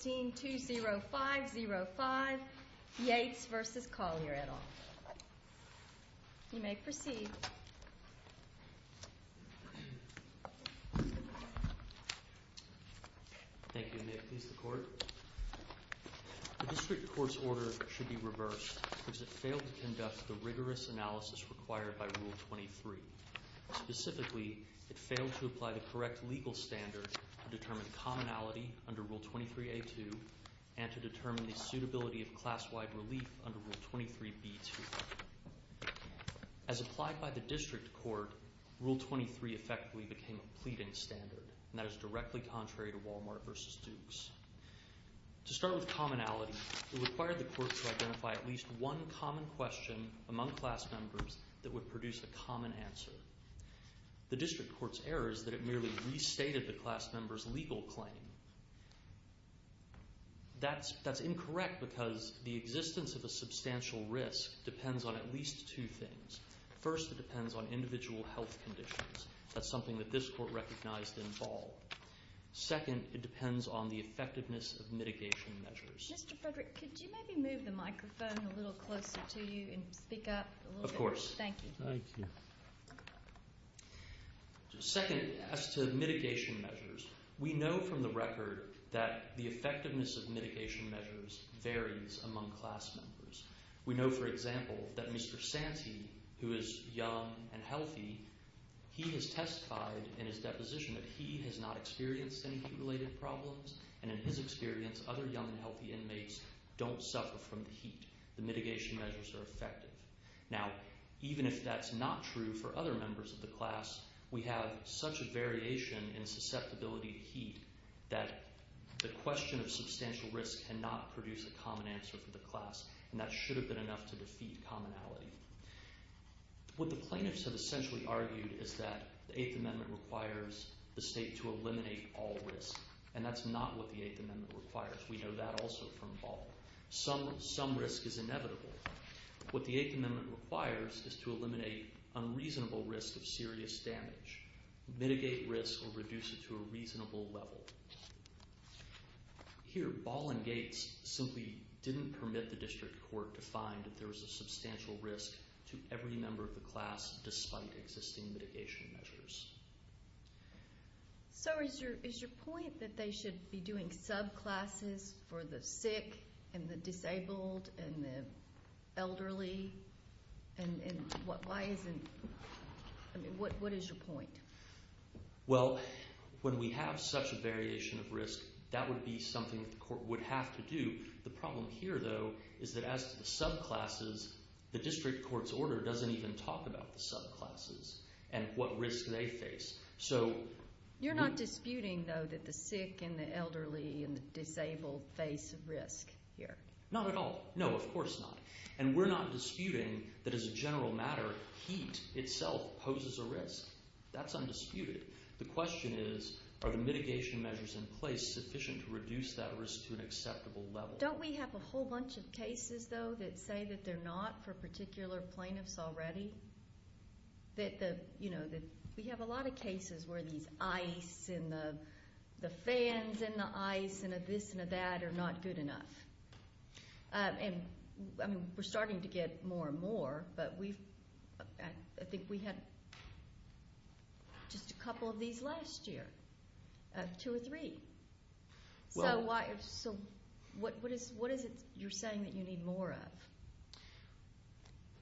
15-20505 Yates v. Collier, et al. You may proceed. Thank you. May it please the Court? The District Court's order should be reversed because it failed to conduct the rigorous analysis required by Rule 23. Specifically, it failed to apply the correct legal standards to determine commonality under Rule 23a.2 and to determine the suitability of class-wide relief under Rule 23b.2. As applied by the District Court, Rule 23 effectively became a pleading standard, and that is directly contrary to Wal-Mart v. Dukes. To start with commonality, it required the Court to identify at least one common question among class members that would produce a common answer. The District Court's error is that it merely restated the class member's legal claim. That's incorrect because the existence of a substantial risk depends on at least two things. First, it depends on individual health conditions. That's something that this Court recognized in Ball. Second, it depends on the effectiveness of mitigation measures. Mr. Frederick, could you maybe move the microphone a little closer to you and speak up? Of course. Thank you. Second, as to mitigation measures, we know from the record that the effectiveness of mitigation measures varies among class members. We know, for example, that Mr. Santee, who is young and healthy, he has testified in his deposition that he has not experienced any heat-related problems, and in his experience, other young and healthy inmates don't suffer from the heat. The mitigation measures are effective. Now, even if that's not true for other members of the class, we have such a variation in susceptibility to heat that the question of substantial risk cannot produce a common answer for the class, and that should have been enough to defeat commonality. What the plaintiffs have essentially argued is that the Eighth Amendment requires the state to eliminate all risk, and that's not what the Eighth Amendment requires. We know that also from Ball. Some risk is inevitable. What the Eighth Amendment requires is to eliminate unreasonable risk of serious damage, mitigate risk, or reduce it to a reasonable level. Here, Ball and Gates simply didn't permit the district court to find that there was a substantial risk to every member of the class, despite existing mitigation measures. So is your point that they should be doing subclasses for the sick and the disabled and the elderly? And what is your point? Well, when we have such a variation of risk, that would be something that the court would have to do. The problem here, though, is that as to the subclasses, the district court's order doesn't even talk about the subclasses and what risk they face. You're not disputing, though, that the sick and the elderly and the disabled face a risk here? Not at all. No, of course not. And we're not disputing that as a general matter, heat itself poses a risk. That's undisputed. The question is, are the mitigation measures in place sufficient to reduce that risk to an acceptable level? Don't we have a whole bunch of cases, though, that say that they're not for particular plaintiffs already? We have a lot of cases where these ice and the fans and the ice and the this and the that are not good enough. And we're starting to get more and more, but I think we had just a couple of these last year, two or three. So what is it you're saying that you need more of?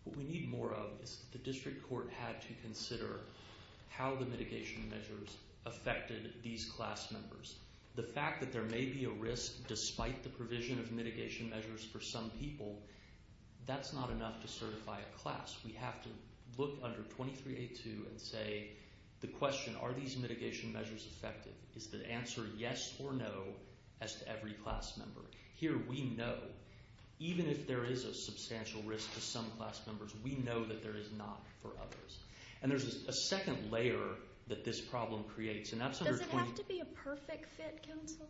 What we need more of is that the district court had to consider how the mitigation measures affected these class members. The fact that there may be a risk despite the provision of mitigation measures for some people, that's not enough to certify a class. We have to look under 2382 and say, the question, are these mitigation measures effective? Is the answer yes or no as to every class member? Here we know, even if there is a substantial risk to some class members, we know that there is not for others. And there's a second layer that this problem creates. Does it have to be a perfect fit, counsel?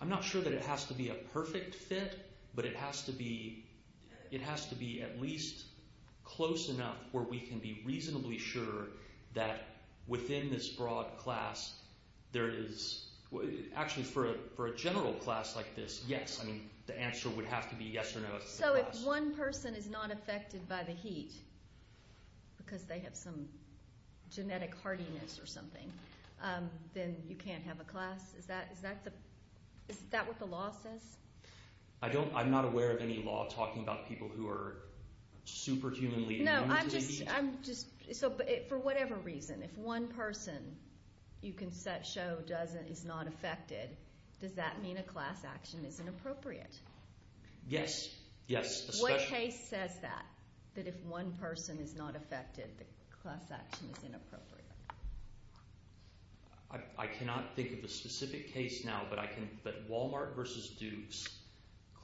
I'm not sure that it has to be a perfect fit, but it has to be at least close enough where we can be reasonably sure that within this broad class, there is, actually for a general class like this, yes. The answer would have to be yes or no. So if one person is not affected by the heat because they have some genetic heartiness or something, then you can't have a class? Is that what the law says? I'm not aware of any law talking about people who are superhumanly immune to the heat. So for whatever reason, if one person you can show is not affected, does that mean a class action isn't appropriate? Yes, yes. What case says that, that if one person is not affected, the class action is inappropriate? I cannot think of a specific case now, but Walmart versus Dukes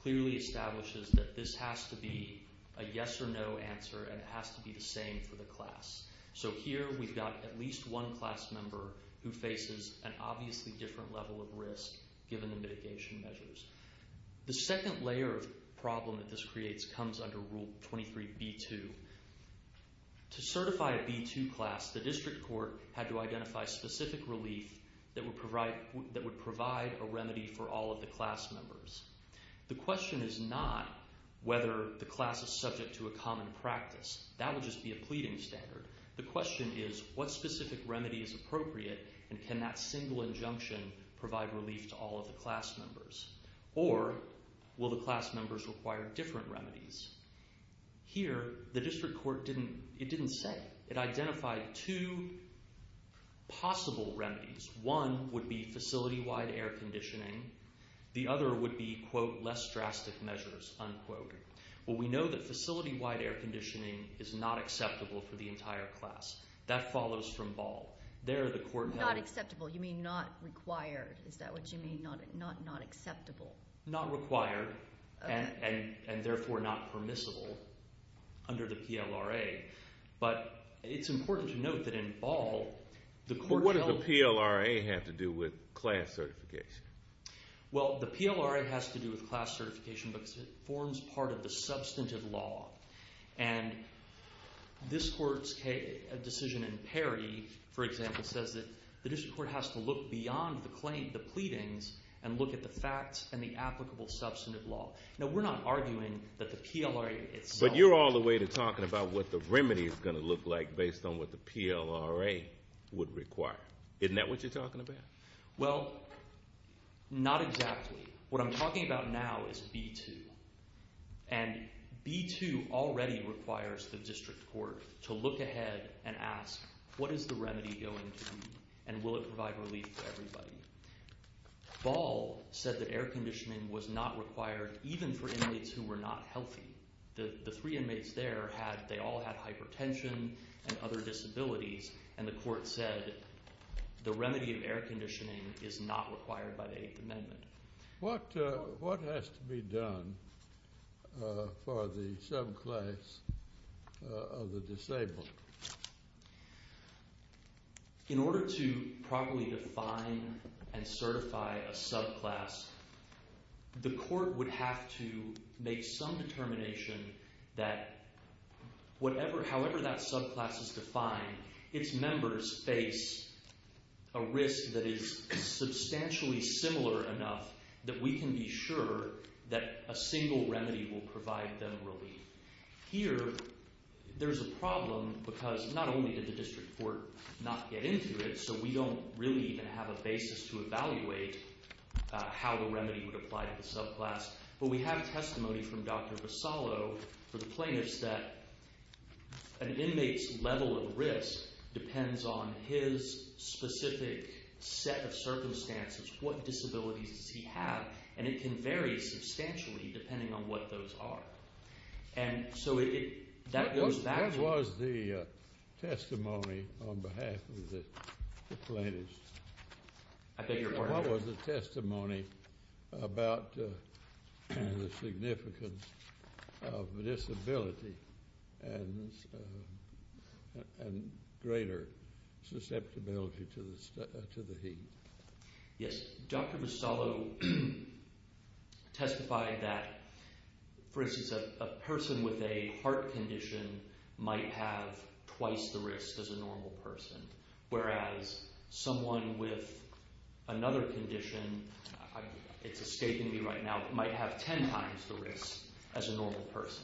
clearly establishes that this has to be a yes or no answer, and it has to be the same for the class. So here we've got at least one class member who faces an obviously different level of risk given the mitigation measures. The second layer of problem that this creates comes under Rule 23B2. To certify a B2 class, the district court had to identify specific relief that would provide a remedy for all of the class members. The question is not whether the class is subject to a common practice. That would just be a pleading standard. The question is what specific remedy is appropriate, and can that single injunction provide relief to all of the class members? Or will the class members require different remedies? Here, the district court didn't say. It identified two possible remedies. One would be facility-wide air conditioning. The other would be, quote, less drastic measures, unquote. Well, we know that facility-wide air conditioning is not acceptable for the entire class. That follows from Ball. Not acceptable. You mean not required. Is that what you mean? Not acceptable. Not required, and therefore not permissible under the PLRA. But it's important to note that in Ball, the court- What does the PLRA have to do with class certification? Well, the PLRA has to do with class certification because it forms part of the substantive law. And this court's decision in Perry, for example, says that the district court has to look beyond the claim, the pleadings, and look at the facts and the applicable substantive law. Now, we're not arguing that the PLRA itself- But you're all the way to talking about what the remedy is going to look like based on what the PLRA would require. Isn't that what you're talking about? Well, not exactly. What I'm talking about now is B-2. And B-2 already requires the district court to look ahead and ask, what is the remedy going to be? And will it provide relief to everybody? Ball said that air conditioning was not required even for inmates who were not healthy. The three inmates there, they all had hypertension and other disabilities. And the court said the remedy of air conditioning is not required by the Eighth Amendment. What has to be done for the subclass of the disabled? In order to properly define and certify a subclass, the court would have to make some determination that however that subclass is defined, its members face a risk that is substantially similar enough that we can be sure that a single remedy will provide them relief. Here, there's a problem because not only did the district court not get into it, so we don't really even have a basis to evaluate how the remedy would apply to the subclass, but we have testimony from Dr. Vasallo for the plaintiffs that an inmate's level of risk depends on his specific set of circumstances. What disabilities does he have? And it can vary substantially depending on what those are. And so that goes back to— What was the testimony on behalf of the plaintiffs? I beg your pardon? What was the testimony about the significance of disability and greater susceptibility to the heat? Yes, Dr. Vasallo testified that, for instance, a person with a heart condition might have twice the risk as a normal person, whereas someone with another condition—it's escaping me right now— might have ten times the risk as a normal person.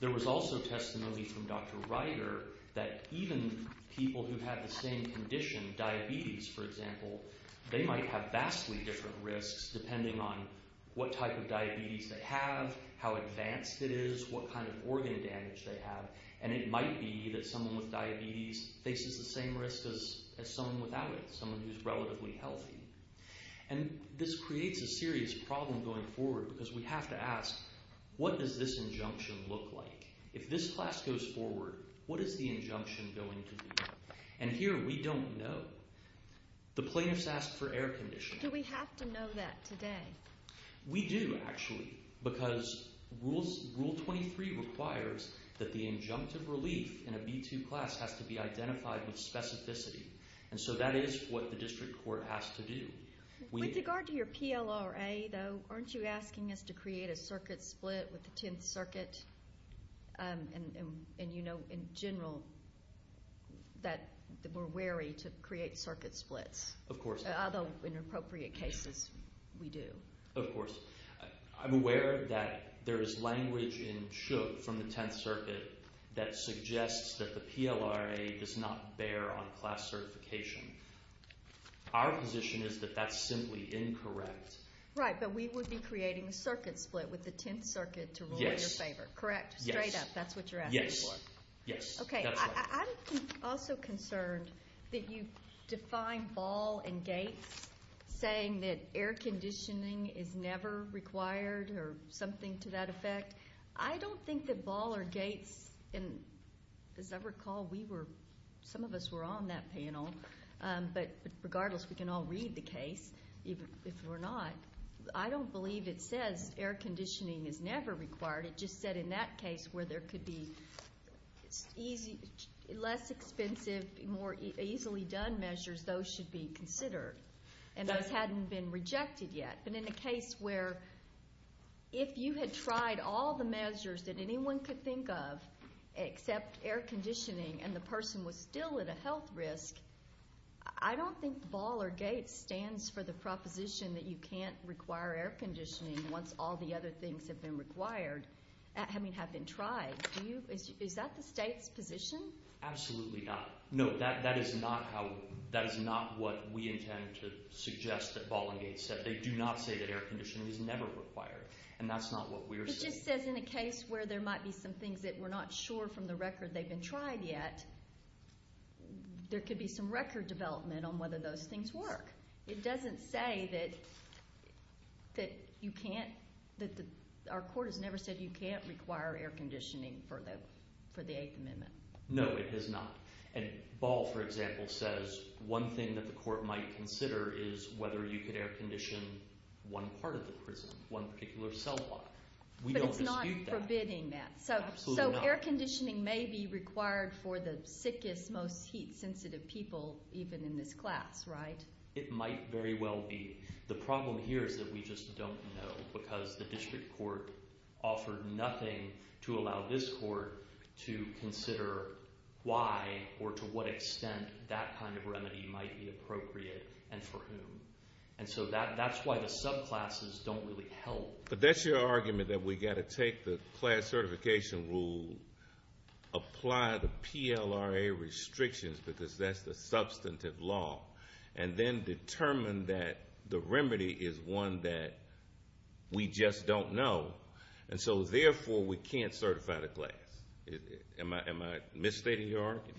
There was also testimony from Dr. Ryder that even people who have the same condition, diabetes, for example, they might have vastly different risks depending on what type of diabetes they have, how advanced it is, what kind of organ damage they have. And it might be that someone with diabetes faces the same risk as someone without it, someone who's relatively healthy. And this creates a serious problem going forward because we have to ask, what does this injunction look like? If this class goes forward, what is the injunction going to be? And here we don't know. The plaintiffs asked for air conditioning. Do we have to know that today? We do, actually, because Rule 23 requires that the injunctive relief in a B2 class has to be identified with specificity. And so that is what the district court has to do. With regard to your PLRA, though, aren't you asking us to create a circuit split with the Tenth Circuit? And you know in general that we're wary to create circuit splits. Of course. Although in appropriate cases we do. Of course. I'm aware that there is language in Shook from the Tenth Circuit that suggests that the PLRA does not bear on class certification. Our position is that that's simply incorrect. Right, but we would be creating a circuit split with the Tenth Circuit to rule in your favor, correct? Yes. Straight up, that's what you're asking for? Yes. Okay, I'm also concerned that you define Ball and Gates saying that air conditioning is never required or something to that effect. I don't think that Ball or Gates, and as I recall, some of us were on that panel, but regardless, we can all read the case if we're not. I don't believe it says air conditioning is never required. It just said in that case where there could be less expensive, more easily done measures, those should be considered. And those hadn't been rejected yet. But in a case where if you had tried all the measures that anyone could think of except air conditioning and the person was still at a health risk, I don't think Ball or Gates stands for the proposition that you can't require air conditioning once all the other things have been tried. Is that the state's position? Absolutely not. No, that is not what we intend to suggest that Ball and Gates said. They do not say that air conditioning is never required, and that's not what we are saying. It just says in a case where there might be some things that we're not sure from the record they've been tried yet, there could be some record development on whether those things work. It doesn't say that you can't—our court has never said you can't require air conditioning for the Eighth Amendment. No, it has not. And Ball, for example, says one thing that the court might consider is whether you could air condition one part of the prison, one particular cell block. But it's not forbidding that. Absolutely not. So air conditioning may be required for the sickest, most heat-sensitive people even in this class, right? It might very well be. The problem here is that we just don't know because the district court offered nothing to allow this court to consider why or to what extent that kind of remedy might be appropriate and for whom. And so that's why the subclasses don't really help. But that's your argument that we've got to take the class certification rule, apply the PLRA restrictions because that's the substantive law, and then determine that the remedy is one that we just don't know. And so therefore we can't certify the class. Am I misstating your argument?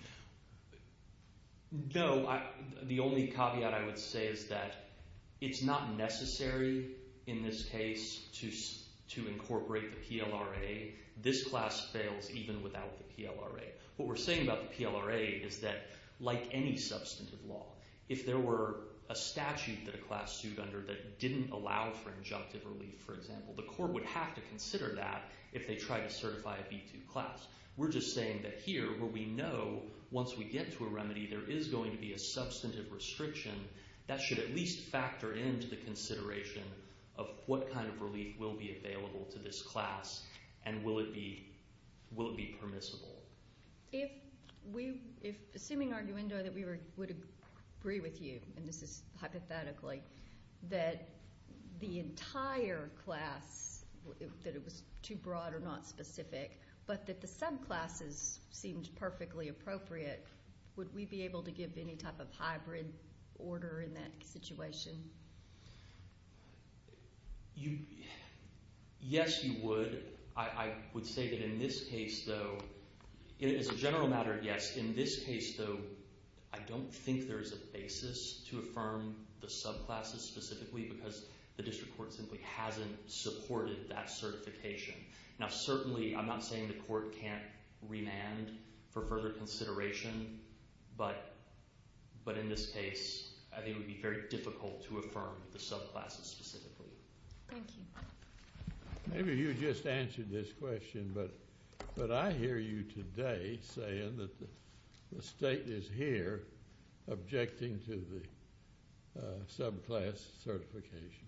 No. The only caveat I would say is that it's not necessary in this case to incorporate the PLRA. This class fails even without the PLRA. What we're saying about the PLRA is that like any substantive law, if there were a statute that a class sued under that didn't allow for injunctive relief, for example, the court would have to consider that if they tried to certify a B2 class. We're just saying that here where we know once we get to a remedy there is going to be a substantive restriction, that should at least factor into the consideration of what kind of relief will be available to this class and will it be permissible. Assuming, Arguendo, that we would agree with you, and this is hypothetically, that the entire class, that it was too broad or not specific, but that the subclasses seemed perfectly appropriate, would we be able to give any type of hybrid order in that situation? Yes, you would. I would say that in this case, though, as a general matter, yes. In this case, though, I don't think there's a basis to affirm the subclasses specifically because the district court simply hasn't supported that certification. Certainly, I'm not saying the court can't remand for further consideration, but in this case, I think it would be very difficult to affirm the subclasses specifically. Thank you. Maybe you just answered this question, but I hear you today saying that the state is here objecting to the subclass certification.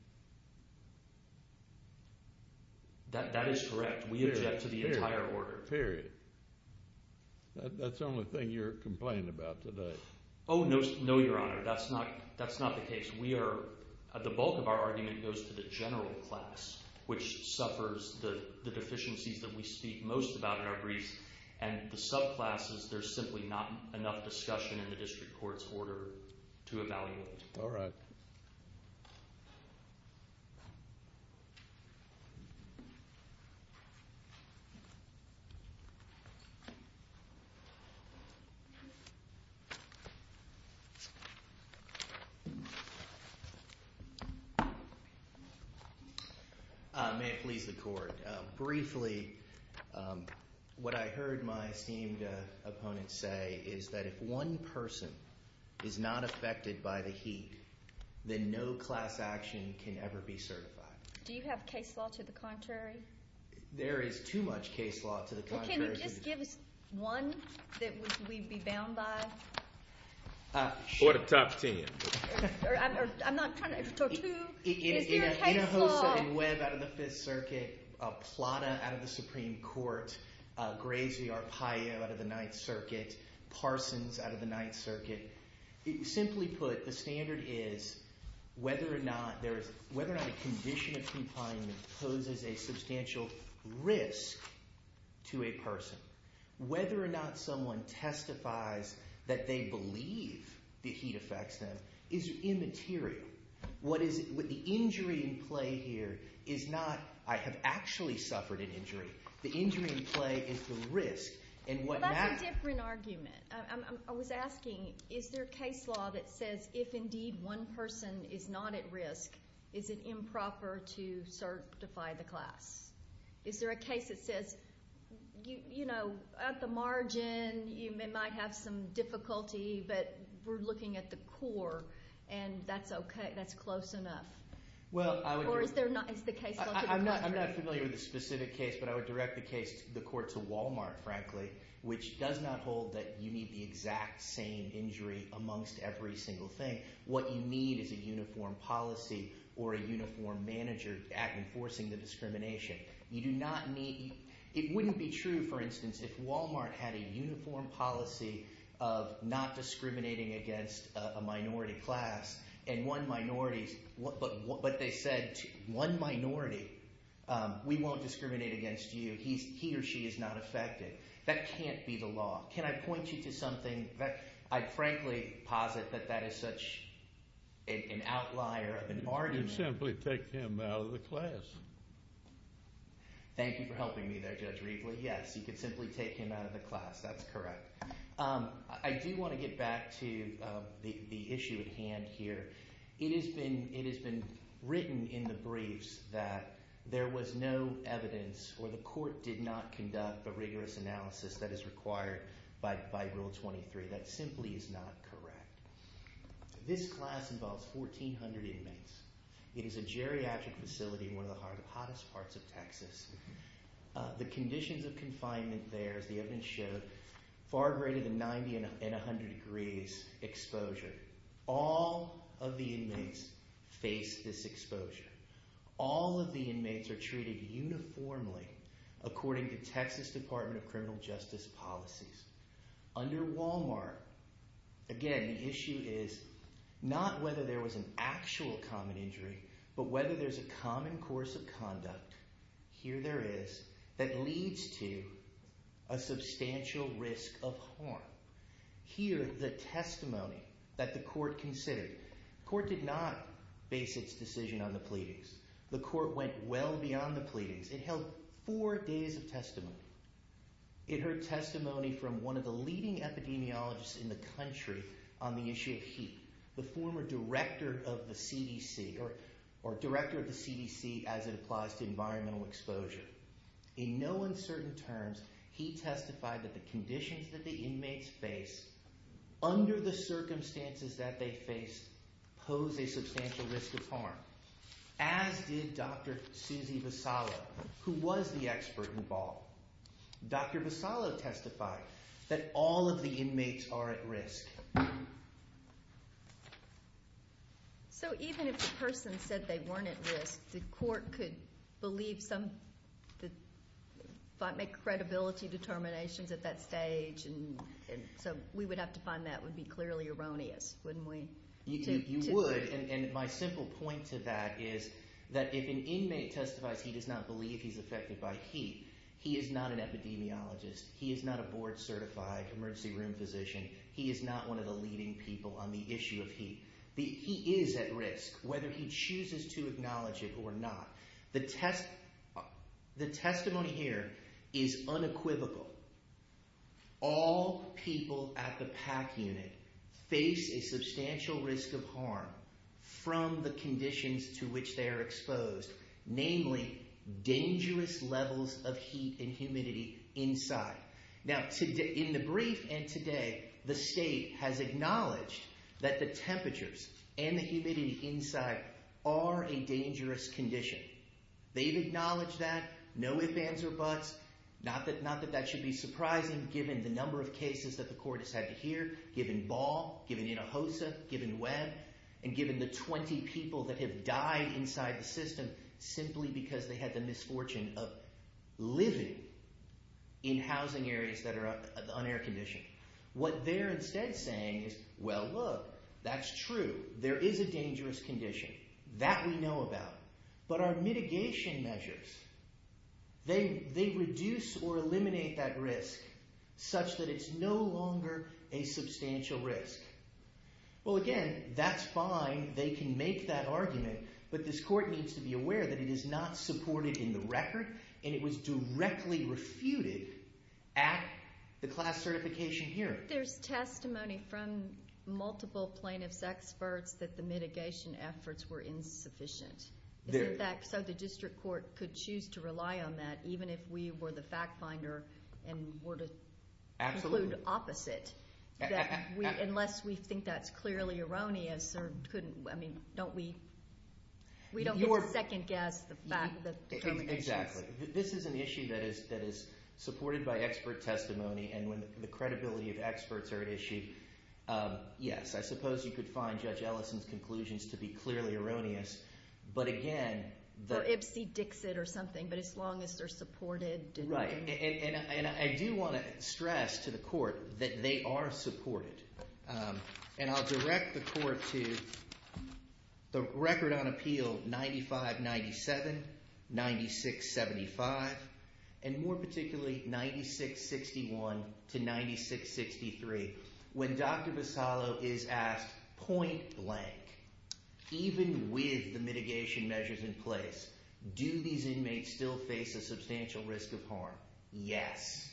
That is correct. We object to the entire order. Period. That's the only thing you're complaining about today. Oh, no, Your Honor. That's not the case. The bulk of our argument goes to the general class, which suffers the deficiencies that we speak most about in our briefs, and the subclasses, there's simply not enough discussion in the district court's order to evaluate. All right. Thank you. May it please the court. Briefly, what I heard my esteemed opponent say is that if one person is not affected by the heat, then no class action can ever be certified. Do you have case law to the contrary? There is too much case law to the contrary. Well, can you just give us one that we'd be bound by? Or the top ten. I'm not trying to talk to you. Is there a case law? In Webb out of the Fifth Circuit, Plata out of the Supreme Court, Graves v. Arpaio out of the Ninth Circuit, Parsons out of the Ninth Circuit, simply put, the standard is whether or not a condition of confinement poses a substantial risk to a person. Whether or not someone testifies that they believe the heat affects them is immaterial. The injury in play here is not, I have actually suffered an injury. The injury in play is the risk. Well, that's a different argument. I was asking, is there a case law that says if, indeed, one person is not at risk, is it improper to certify the class? Is there a case that says, you know, at the margin, you might have some difficulty, but we're looking at the core, and that's close enough? Or is there not? I'm not familiar with the specific case, but I would direct the court to Walmart, frankly, which does not hold that you need the exact same injury amongst every single thing. What you need is a uniform policy or a uniform manager at enforcing the discrimination. You do not need, it wouldn't be true, for instance, if Walmart had a uniform policy of not discriminating against a minority class and one minority, but they said, one minority, we won't discriminate against you. He or she is not affected. That can't be the law. Can I point you to something? I frankly posit that that is such an outlier of an argument. You can simply take him out of the class. Thank you for helping me there, Judge Riefle. Yes, you can simply take him out of the class. That's correct. I do want to get back to the issue at hand here. It has been written in the briefs that there was no evidence or the court did not conduct a rigorous analysis that is required by Rule 23. That simply is not correct. This class involves 1,400 inmates. It is a geriatric facility in one of the hottest parts of Texas. The conditions of confinement there, as the evidence showed, far greater than 90 and 100 degrees exposure. All of the inmates face this exposure. All of the inmates are treated uniformly according to Texas Department of Criminal Justice policies. Under Walmart, again, the issue is not whether there was an actual common injury but whether there's a common course of conduct, here there is, that leads to a substantial risk of harm. Here, the testimony that the court considered, the court did not base its decision on the pleadings. The court went well beyond the pleadings. It held four days of testimony. It heard testimony from one of the leading epidemiologists in the country on the issue of heat, the former director of the CDC, or director of the CDC as it applies to environmental exposure. In no uncertain terms, he testified that the conditions that the inmates face under the circumstances that they face pose a substantial risk of harm, as did Dr. Susie Visalo, who was the expert involved. Dr. Visalo testified that all of the inmates are at risk. So even if the person said they weren't at risk, the court could believe some credibility determinations at that stage so we would have to find that would be clearly erroneous, wouldn't we? You would, and my simple point to that is that if an inmate testifies he does not believe he's affected by heat, he is not an epidemiologist. He is not a board-certified emergency room physician. He is not one of the leading people on the issue of heat. He is at risk, whether he chooses to acknowledge it or not. The testimony here is unequivocal. All people at the PAC unit face a substantial risk of harm from the conditions to which they are exposed, namely dangerous levels of heat and humidity inside. Now, in the brief and today, the state has acknowledged that the temperatures and the humidity inside are a dangerous condition. They've acknowledged that, no ifs, ands, or buts. Not that that should be surprising given the number of cases that the court has had to hear, given Ball, given Hinojosa, given Webb, and given the 20 people that have died inside the system simply because they had the misfortune of living in housing areas that are un-air-conditioned. What they're instead saying is, well, look, that's true. There is a dangerous condition. That we know about. But our mitigation measures, they reduce or eliminate that risk such that it's no longer a substantial risk. Well, again, that's fine. They can make that argument. But this court needs to be aware that it is not supported in the record, and it was directly refuted at the class certification hearing. There's testimony from multiple plaintiffs' experts that the mitigation efforts were insufficient. So the district court could choose to rely on that even if we were the fact finder and were to conclude opposite. Unless we think that's clearly erroneous. I mean, don't we? We don't need to second-guess the facts. Exactly. This is an issue that is supported by expert testimony, and when the credibility of experts are at issue, yes. I suppose you could find Judge Ellison's conclusions to be clearly erroneous. For Ipsy-Dixit or something, but as long as they're supported. Right. And I do want to stress to the court that they are supported. And I'll direct the court to the record on appeal 95-97, 96-75, and more particularly 96-61 to 96-63. When Dr. Bassallo is asked, point blank, even with the mitigation measures in place, do these inmates still face a substantial risk of harm? Yes.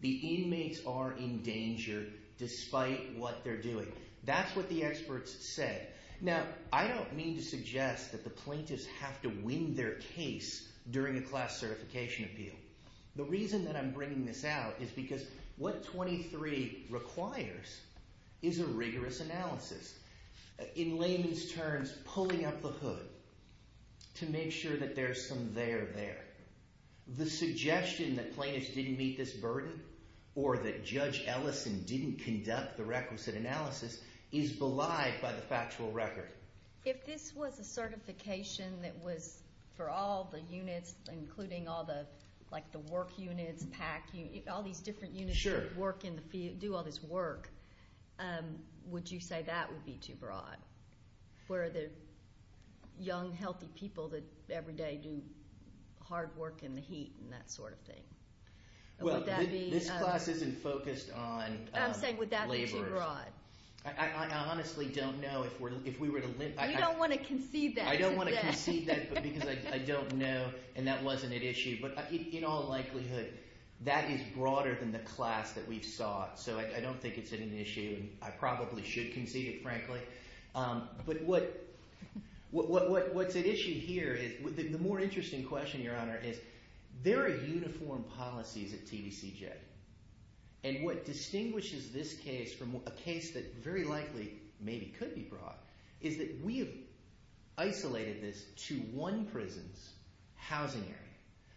The inmates are in danger despite what they're doing. That's what the experts said. Now, I don't mean to suggest that the plaintiffs have to win their case during a class certification appeal. The reason that I'm bringing this out is because what 23 requires is a rigorous analysis. In layman's terms, pulling up the hood to make sure that there's some there there. The suggestion that plaintiffs didn't meet this burden or that Judge Ellison didn't conduct the requisite analysis is belied by the factual record. If this was a certification that was for all the units, including all the work units, PAC units, all these different units that do all this work, would you say that would be too broad? Where the young, healthy people that every day do hard work in the heat and that sort of thing. This class isn't focused on laborers. I'm saying would that be too broad? I honestly don't know. You don't want to concede that. I don't want to concede that because I don't know and that wasn't at issue. But in all likelihood, that is broader than the class that we've sought. So I don't think it's an issue. I probably should concede it, frankly. But what's at issue here is the more interesting question, Your Honor, is there are uniform policies at TVCJ. And what distinguishes this case from a case that very likely maybe could be broad is that we have isolated this to one prison's housing area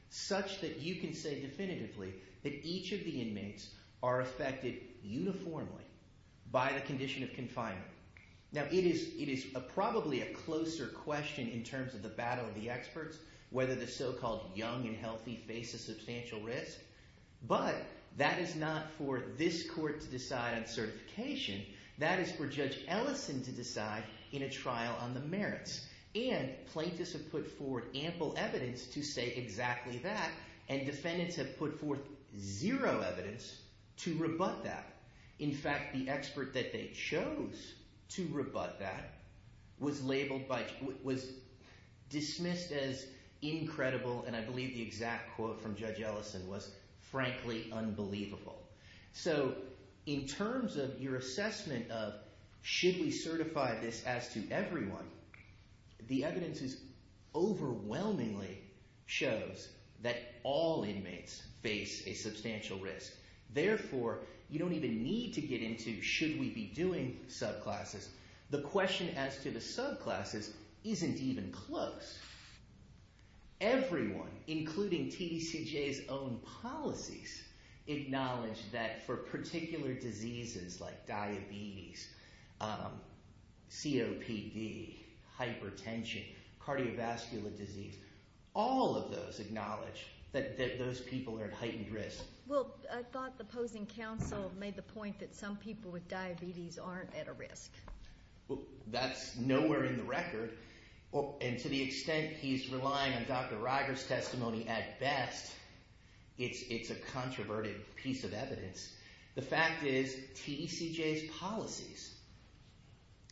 such that you can say definitively that each of the inmates are affected uniformly by the condition of confinement. Now it is probably a closer question in terms of the battle of the experts, whether the so-called young and healthy face a substantial risk. But that is not for this court to decide on certification. That is for Judge Ellison to decide in a trial on the merits. And plaintiffs have put forward ample evidence to say exactly that, and defendants have put forth zero evidence to rebut that. In fact, the expert that they chose to rebut that was labeled by was dismissed as incredible, and I believe the exact quote from Judge Ellison was frankly unbelievable. So in terms of your assessment of should we certify this as to everyone, the evidence overwhelmingly shows that all inmates face a substantial risk. Therefore, you don't even need to get into should we be doing subclasses. The question as to the subclasses isn't even close. Everyone, including TDCJ's own policies, acknowledge that for particular diseases like diabetes, COPD, hypertension, cardiovascular disease, all of those acknowledge that those people are at heightened risk. Well, I thought the opposing counsel made the point that some people with diabetes aren't at a risk. That's nowhere in the record. And to the extent he's relying on Dr. Riger's testimony at best, it's a controverted piece of evidence. The fact is TDCJ's policies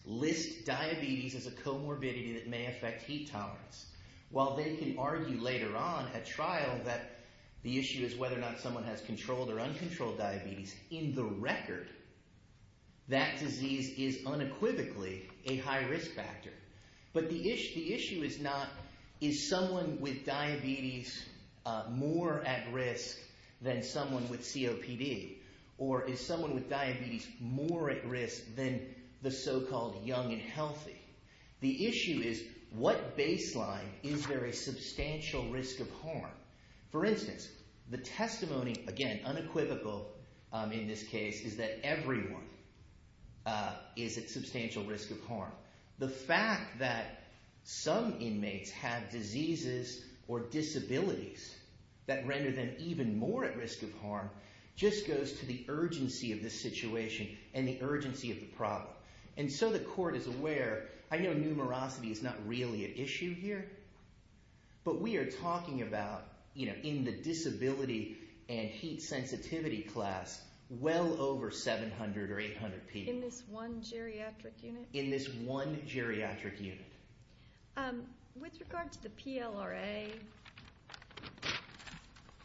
list diabetes as a comorbidity that may affect heat tolerance. While they can argue later on at trial that the issue is whether or not someone has controlled or uncontrolled diabetes, in the record, that disease is unequivocally a high risk factor. But the issue is not is someone with diabetes more at risk than someone with COPD? Or is someone with diabetes more at risk than the so-called young and healthy? The issue is what baseline is there a substantial risk of harm? For instance, the testimony, again, unequivocal in this case, is that everyone is at substantial risk of harm. The fact that some inmates have diseases or disabilities that render them even more at risk of harm just goes to the urgency of this situation and the urgency of the problem. And so the court is aware. I know numerosity is not really an issue here. But we are talking about in the disability and heat sensitivity class well over 700 or 800 people. In this one geriatric unit? In this one geriatric unit. With regard to the PLRA,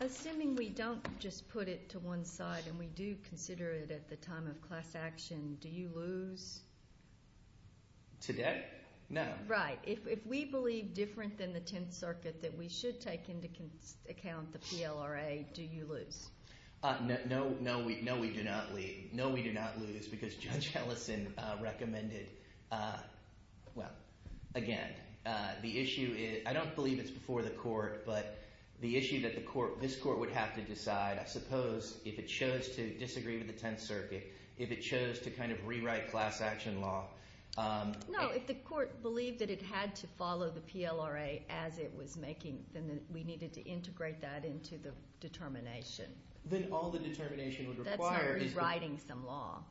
assuming we don't just put it to one side and we do consider it at the time of class action, do you lose? Today? No. Right. If we believe different than the Tenth Circuit that we should take into account the PLRA, do you lose? No, we do not lose because Judge Ellison recommended, well, again, the issue is I don't believe it's before the court, but the issue that this court would have to decide, I suppose, if it chose to disagree with the Tenth Circuit, if it chose to kind of rewrite class action law. No. If the court believed that it had to follow the PLRA as it was making, then we needed to integrate that into the determination. Then all the determination would require is the… That's not rewriting some law.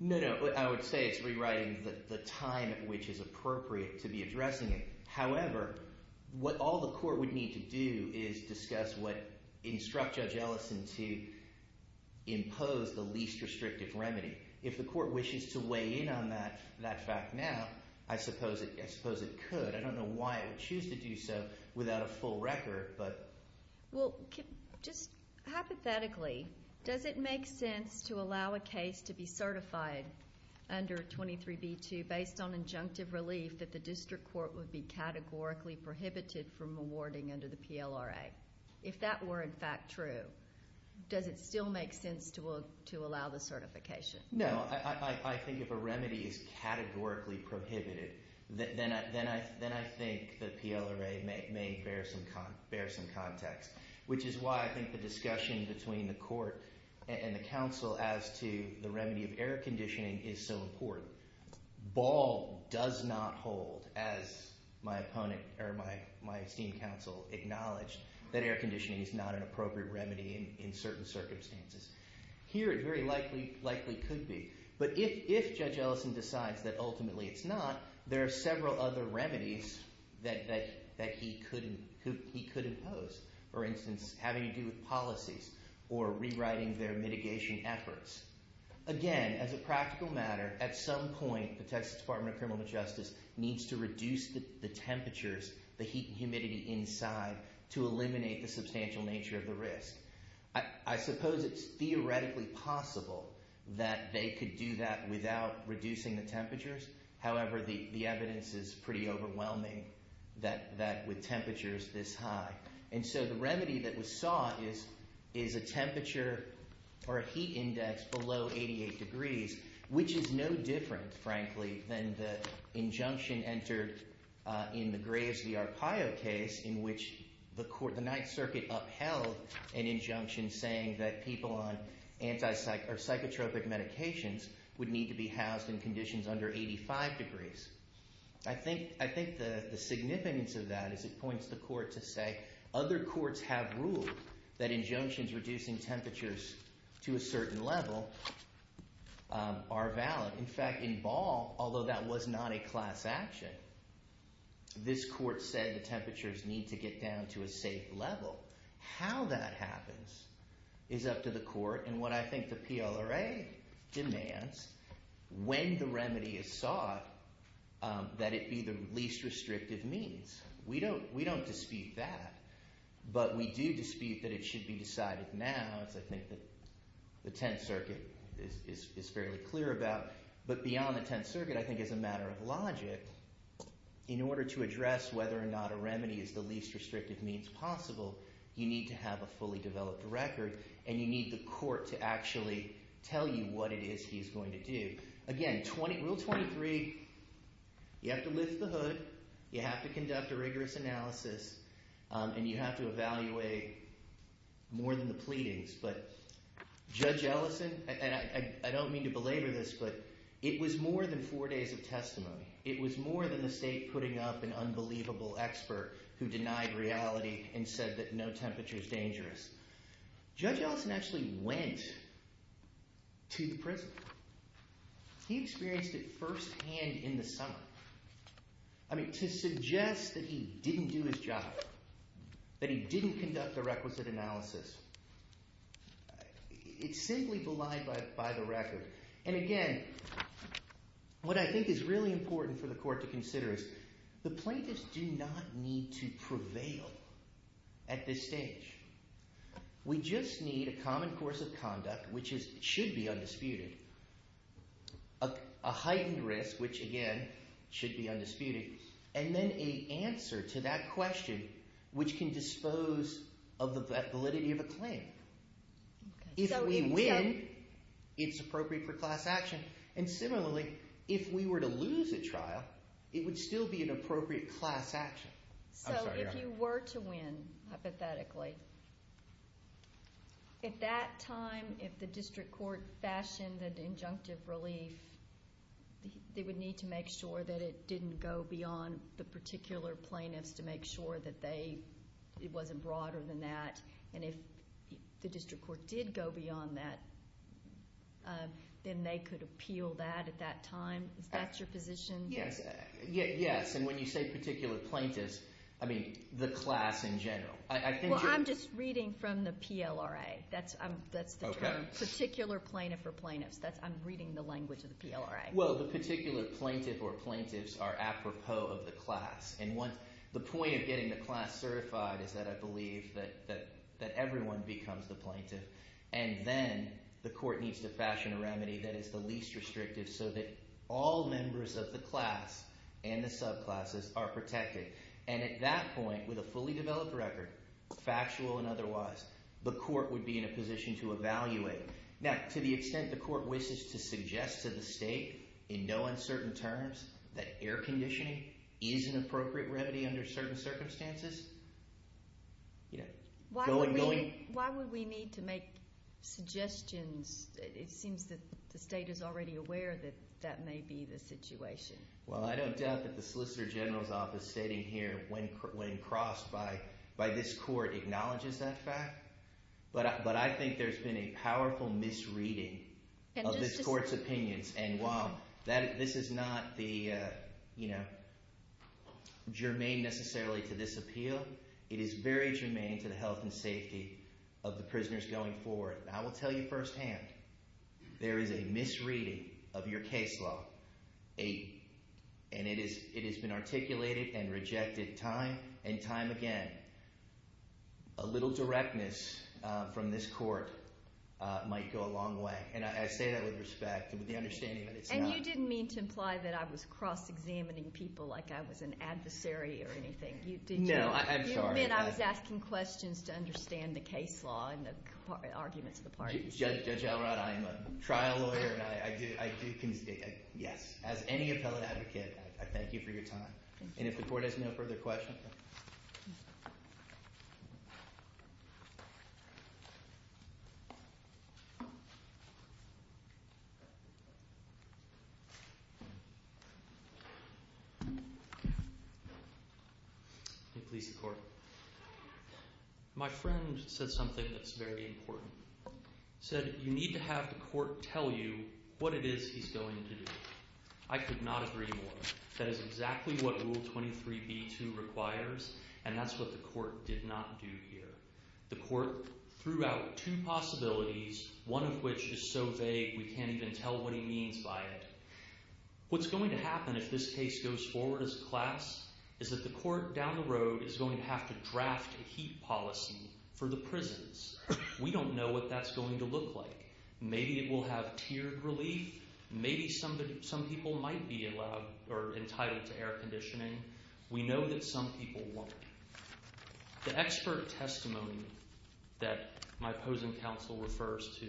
No, no. I would say it's rewriting the time at which is appropriate to be addressing it. However, what all the court would need to do is discuss what instruct Judge Ellison to impose the least restrictive remedy. If the court wishes to weigh in on that fact now, I suppose it could. I don't know why it would choose to do so without a full record, but… Well, just hypothetically, does it make sense to allow a case to be certified under 23b2 based on injunctive relief that the district court would be categorically prohibited from awarding under the PLRA? If that were, in fact, true, does it still make sense to allow the certification? No. I think if a remedy is categorically prohibited, then I think the PLRA may bear some context, which is why I think the discussion between the court and the counsel as to the remedy of air conditioning is so important. Ball does not hold, as my esteemed counsel acknowledged, that air conditioning is not an appropriate remedy in certain circumstances. Here, it very likely could be. But if Judge Ellison decides that ultimately it's not, there are several other remedies that he could impose. For instance, having to do with policies or rewriting their mitigation efforts. Again, as a practical matter, at some point, the Texas Department of Criminal Justice needs to reduce the temperatures, the heat and humidity inside, to eliminate the substantial nature of the risk. I suppose it's theoretically possible that they could do that without reducing the temperatures. However, the evidence is pretty overwhelming that with temperatures this high. And so the remedy that was sought is a temperature or a heat index below 88 degrees, which is no different, frankly, than the injunction entered in the Graves v. Arpaio case, in which the Ninth Circuit upheld an injunction saying that people on psychotropic medications would need to be housed in conditions under 85 degrees. I think the significance of that is it points the court to say other courts have ruled that injunctions reducing temperatures to a certain level are valid. In fact, in Ball, although that was not a class action, this court said the temperatures need to get down to a safe level. How that happens is up to the court, and what I think the PLRA demands, when the remedy is sought, that it be the least restrictive means. We don't dispute that, but we do dispute that it should be decided now, and that's, I think, what the Tenth Circuit is fairly clear about. But beyond the Tenth Circuit, I think as a matter of logic, in order to address whether or not a remedy is the least restrictive means possible, you need to have a fully developed record, and you need the court to actually tell you what it is he's going to do. Again, Rule 23, you have to lift the hood, you have to conduct a rigorous analysis, and you have to evaluate more than the pleadings. But Judge Ellison, and I don't mean to belabor this, but it was more than four days of testimony. It was more than the state putting up an unbelievable expert who denied reality and said that no temperature is dangerous. Judge Ellison actually went to the prison. He experienced it firsthand in the summer. I mean, to suggest that he didn't do his job, that he didn't conduct a requisite analysis, it's simply belied by the record. And again, what I think is really important for the court to consider is the plaintiffs do not need to prevail at this stage. We just need a common course of conduct, which should be undisputed, a heightened risk, which again should be undisputed, and then an answer to that question, which can dispose of the validity of a claim. If we win, it's appropriate for class action. And similarly, if we were to lose a trial, it would still be an appropriate class action. So if you were to win, hypothetically, at that time, if the district court fashioned an injunctive relief, they would need to make sure that it didn't go beyond the particular plaintiffs to make sure that it wasn't broader than that. And if the district court did go beyond that, then they could appeal that at that time. Is that your position? Yes, and when you say particular plaintiffs, I mean the class in general. Well, I'm just reading from the PLRA. That's the term, particular plaintiff or plaintiffs. I'm reading the language of the PLRA. Well, the particular plaintiff or plaintiffs are apropos of the class. And the point of getting the class certified is that I believe that everyone becomes the plaintiff. And then the court needs to fashion a remedy that is the least restrictive so that all members of the class and the subclasses are protected. And at that point, with a fully developed record, factual and otherwise, the court would be in a position to evaluate. Now, to the extent the court wishes to suggest to the state in no uncertain terms that air conditioning is an appropriate remedy under certain circumstances, you know, going going. Why would we need to make suggestions? It seems that the state is already aware that that may be the situation. Well, I don't doubt that the solicitor general's office sitting here when crossed by this court acknowledges that fact. But I think there's been a powerful misreading of this court's opinions. And while this is not the, you know, germane necessarily to this appeal, it is very germane to the health and safety of the prisoners going forward. And I will tell you firsthand, there is a misreading of your case law. And it has been articulated and rejected time and time again. A little directness from this court might go a long way. And I say that with respect and with the understanding that it's not. And you didn't mean to imply that I was cross-examining people like I was an adversary or anything. No, I'm sorry. You meant I was asking questions to understand the case law and the arguments of the parties. Judge Elrod, I am a trial lawyer, and I do concede. Yes. As any appellate advocate, I thank you for your time. And if the court has no further questions. Please, the court. My friend said something that's very important. He said, you need to have the court tell you what it is he's going to do. I could not agree more. That is exactly what Rule 23b-2 requires, and that's what the court did not do here. The court threw out two possibilities, one of which is so vague we can't even tell what he means by it. What's going to happen if this case goes forward as a class is that the court down the road is going to have to draft a heat policy for the prisons. We don't know what that's going to look like. Maybe it will have tiered relief. Maybe some people might be entitled to air conditioning. We know that some people won't. The expert testimony that my opposing counsel refers to,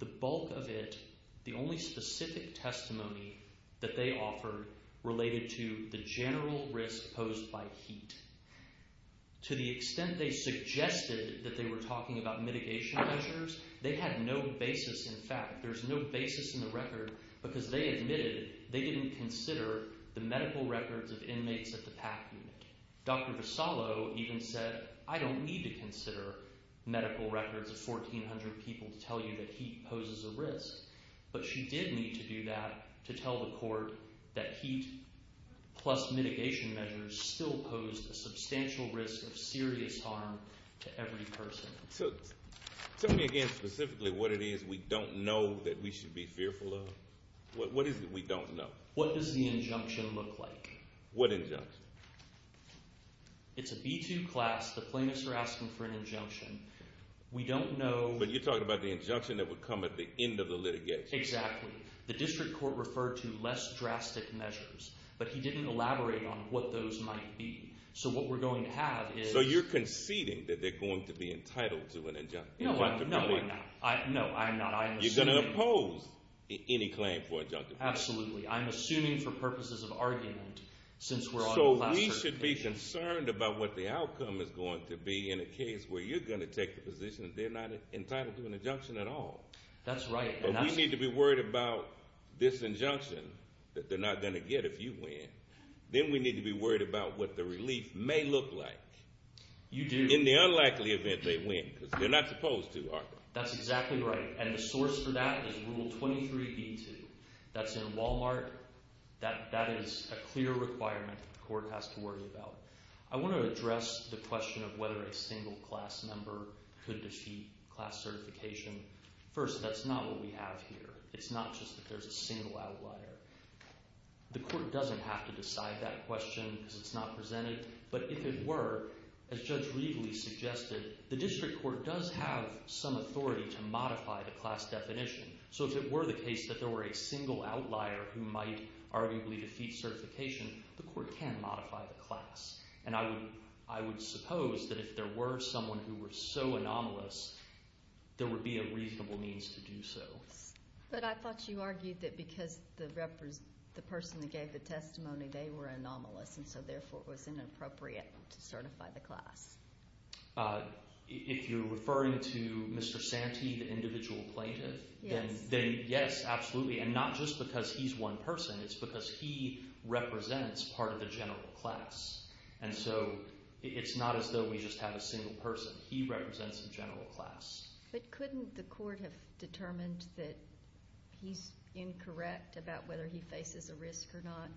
the bulk of it, the only specific testimony that they offered related to the general risk posed by heat. To the extent they suggested that they were talking about mitigation measures, they had no basis in fact. There's no basis in the record because they admitted they didn't consider the medical records of inmates at the PAC unit. Dr. Vasallo even said, I don't need to consider medical records of 1,400 people to tell you that heat poses a risk, but she did need to do that to tell the court that heat plus mitigation measures still posed a substantial risk of serious harm to every person. Tell me again specifically what it is we don't know that we should be fearful of. What is it we don't know? What does the injunction look like? What injunction? It's a B2 class. The plaintiffs are asking for an injunction. We don't know. You're talking about the injunction that would come at the end of the litigation. Exactly. The district court referred to less drastic measures, but he didn't elaborate on what those might be. So what we're going to have is— So you're conceding that they're going to be entitled to an injunction. No, I'm not. You're going to oppose any claim for injunction. Absolutely. I'm assuming for purposes of argument since we're on a class certification. So we should be concerned about what the outcome is going to be in a case where you're going to take the position that they're not entitled to an injunction at all. That's right. But we need to be worried about this injunction that they're not going to get if you win. Then we need to be worried about what the relief may look like. You do. In the unlikely event they win because they're not supposed to, are they? That's exactly right, and the source for that is Rule 23B2. That's in Walmart. That is a clear requirement the court has to worry about. I want to address the question of whether a single class member could defeat class certification. First, that's not what we have here. It's not just that there's a single outlier. The court doesn't have to decide that question because it's not presented, but if it were, as Judge Riegele suggested, the district court does have some authority to modify the class definition. So if it were the case that there were a single outlier who might arguably defeat certification, the court can modify the class. And I would suppose that if there were someone who were so anomalous, there would be a reasonable means to do so. But I thought you argued that because the person that gave the testimony, they were anomalous, and so therefore it was inappropriate to certify the class. If you're referring to Mr. Santee, the individual plaintiff, then yes, absolutely. And not just because he's one person. It's because he represents part of the general class. And so it's not as though we just have a single person. He represents the general class. But couldn't the court have determined that he's incorrect about whether he faces a risk or not?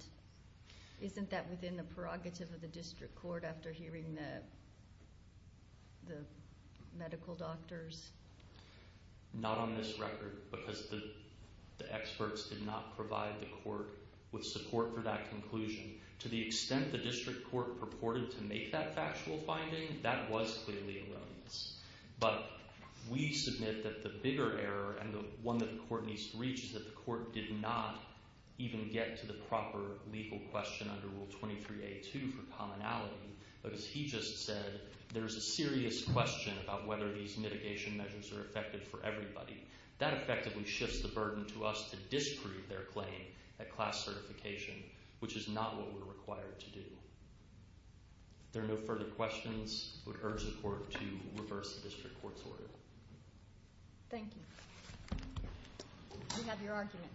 Isn't that within the prerogative of the district court after hearing the medical doctors? Not on this record because the experts did not provide the court with support for that conclusion. To the extent the district court purported to make that factual finding, that was clearly a willingness. But we submit that the bigger error and the one that the court needs to reach is that the court did not even get to the proper legal question under Rule 23a2 for commonality. But as he just said, there's a serious question about whether these mitigation measures are effective for everybody. That effectively shifts the burden to us to disprove their claim at class certification, which is not what we're required to do. If there are no further questions, I would urge the court to reverse the district court's order. Thank you. We have your argument.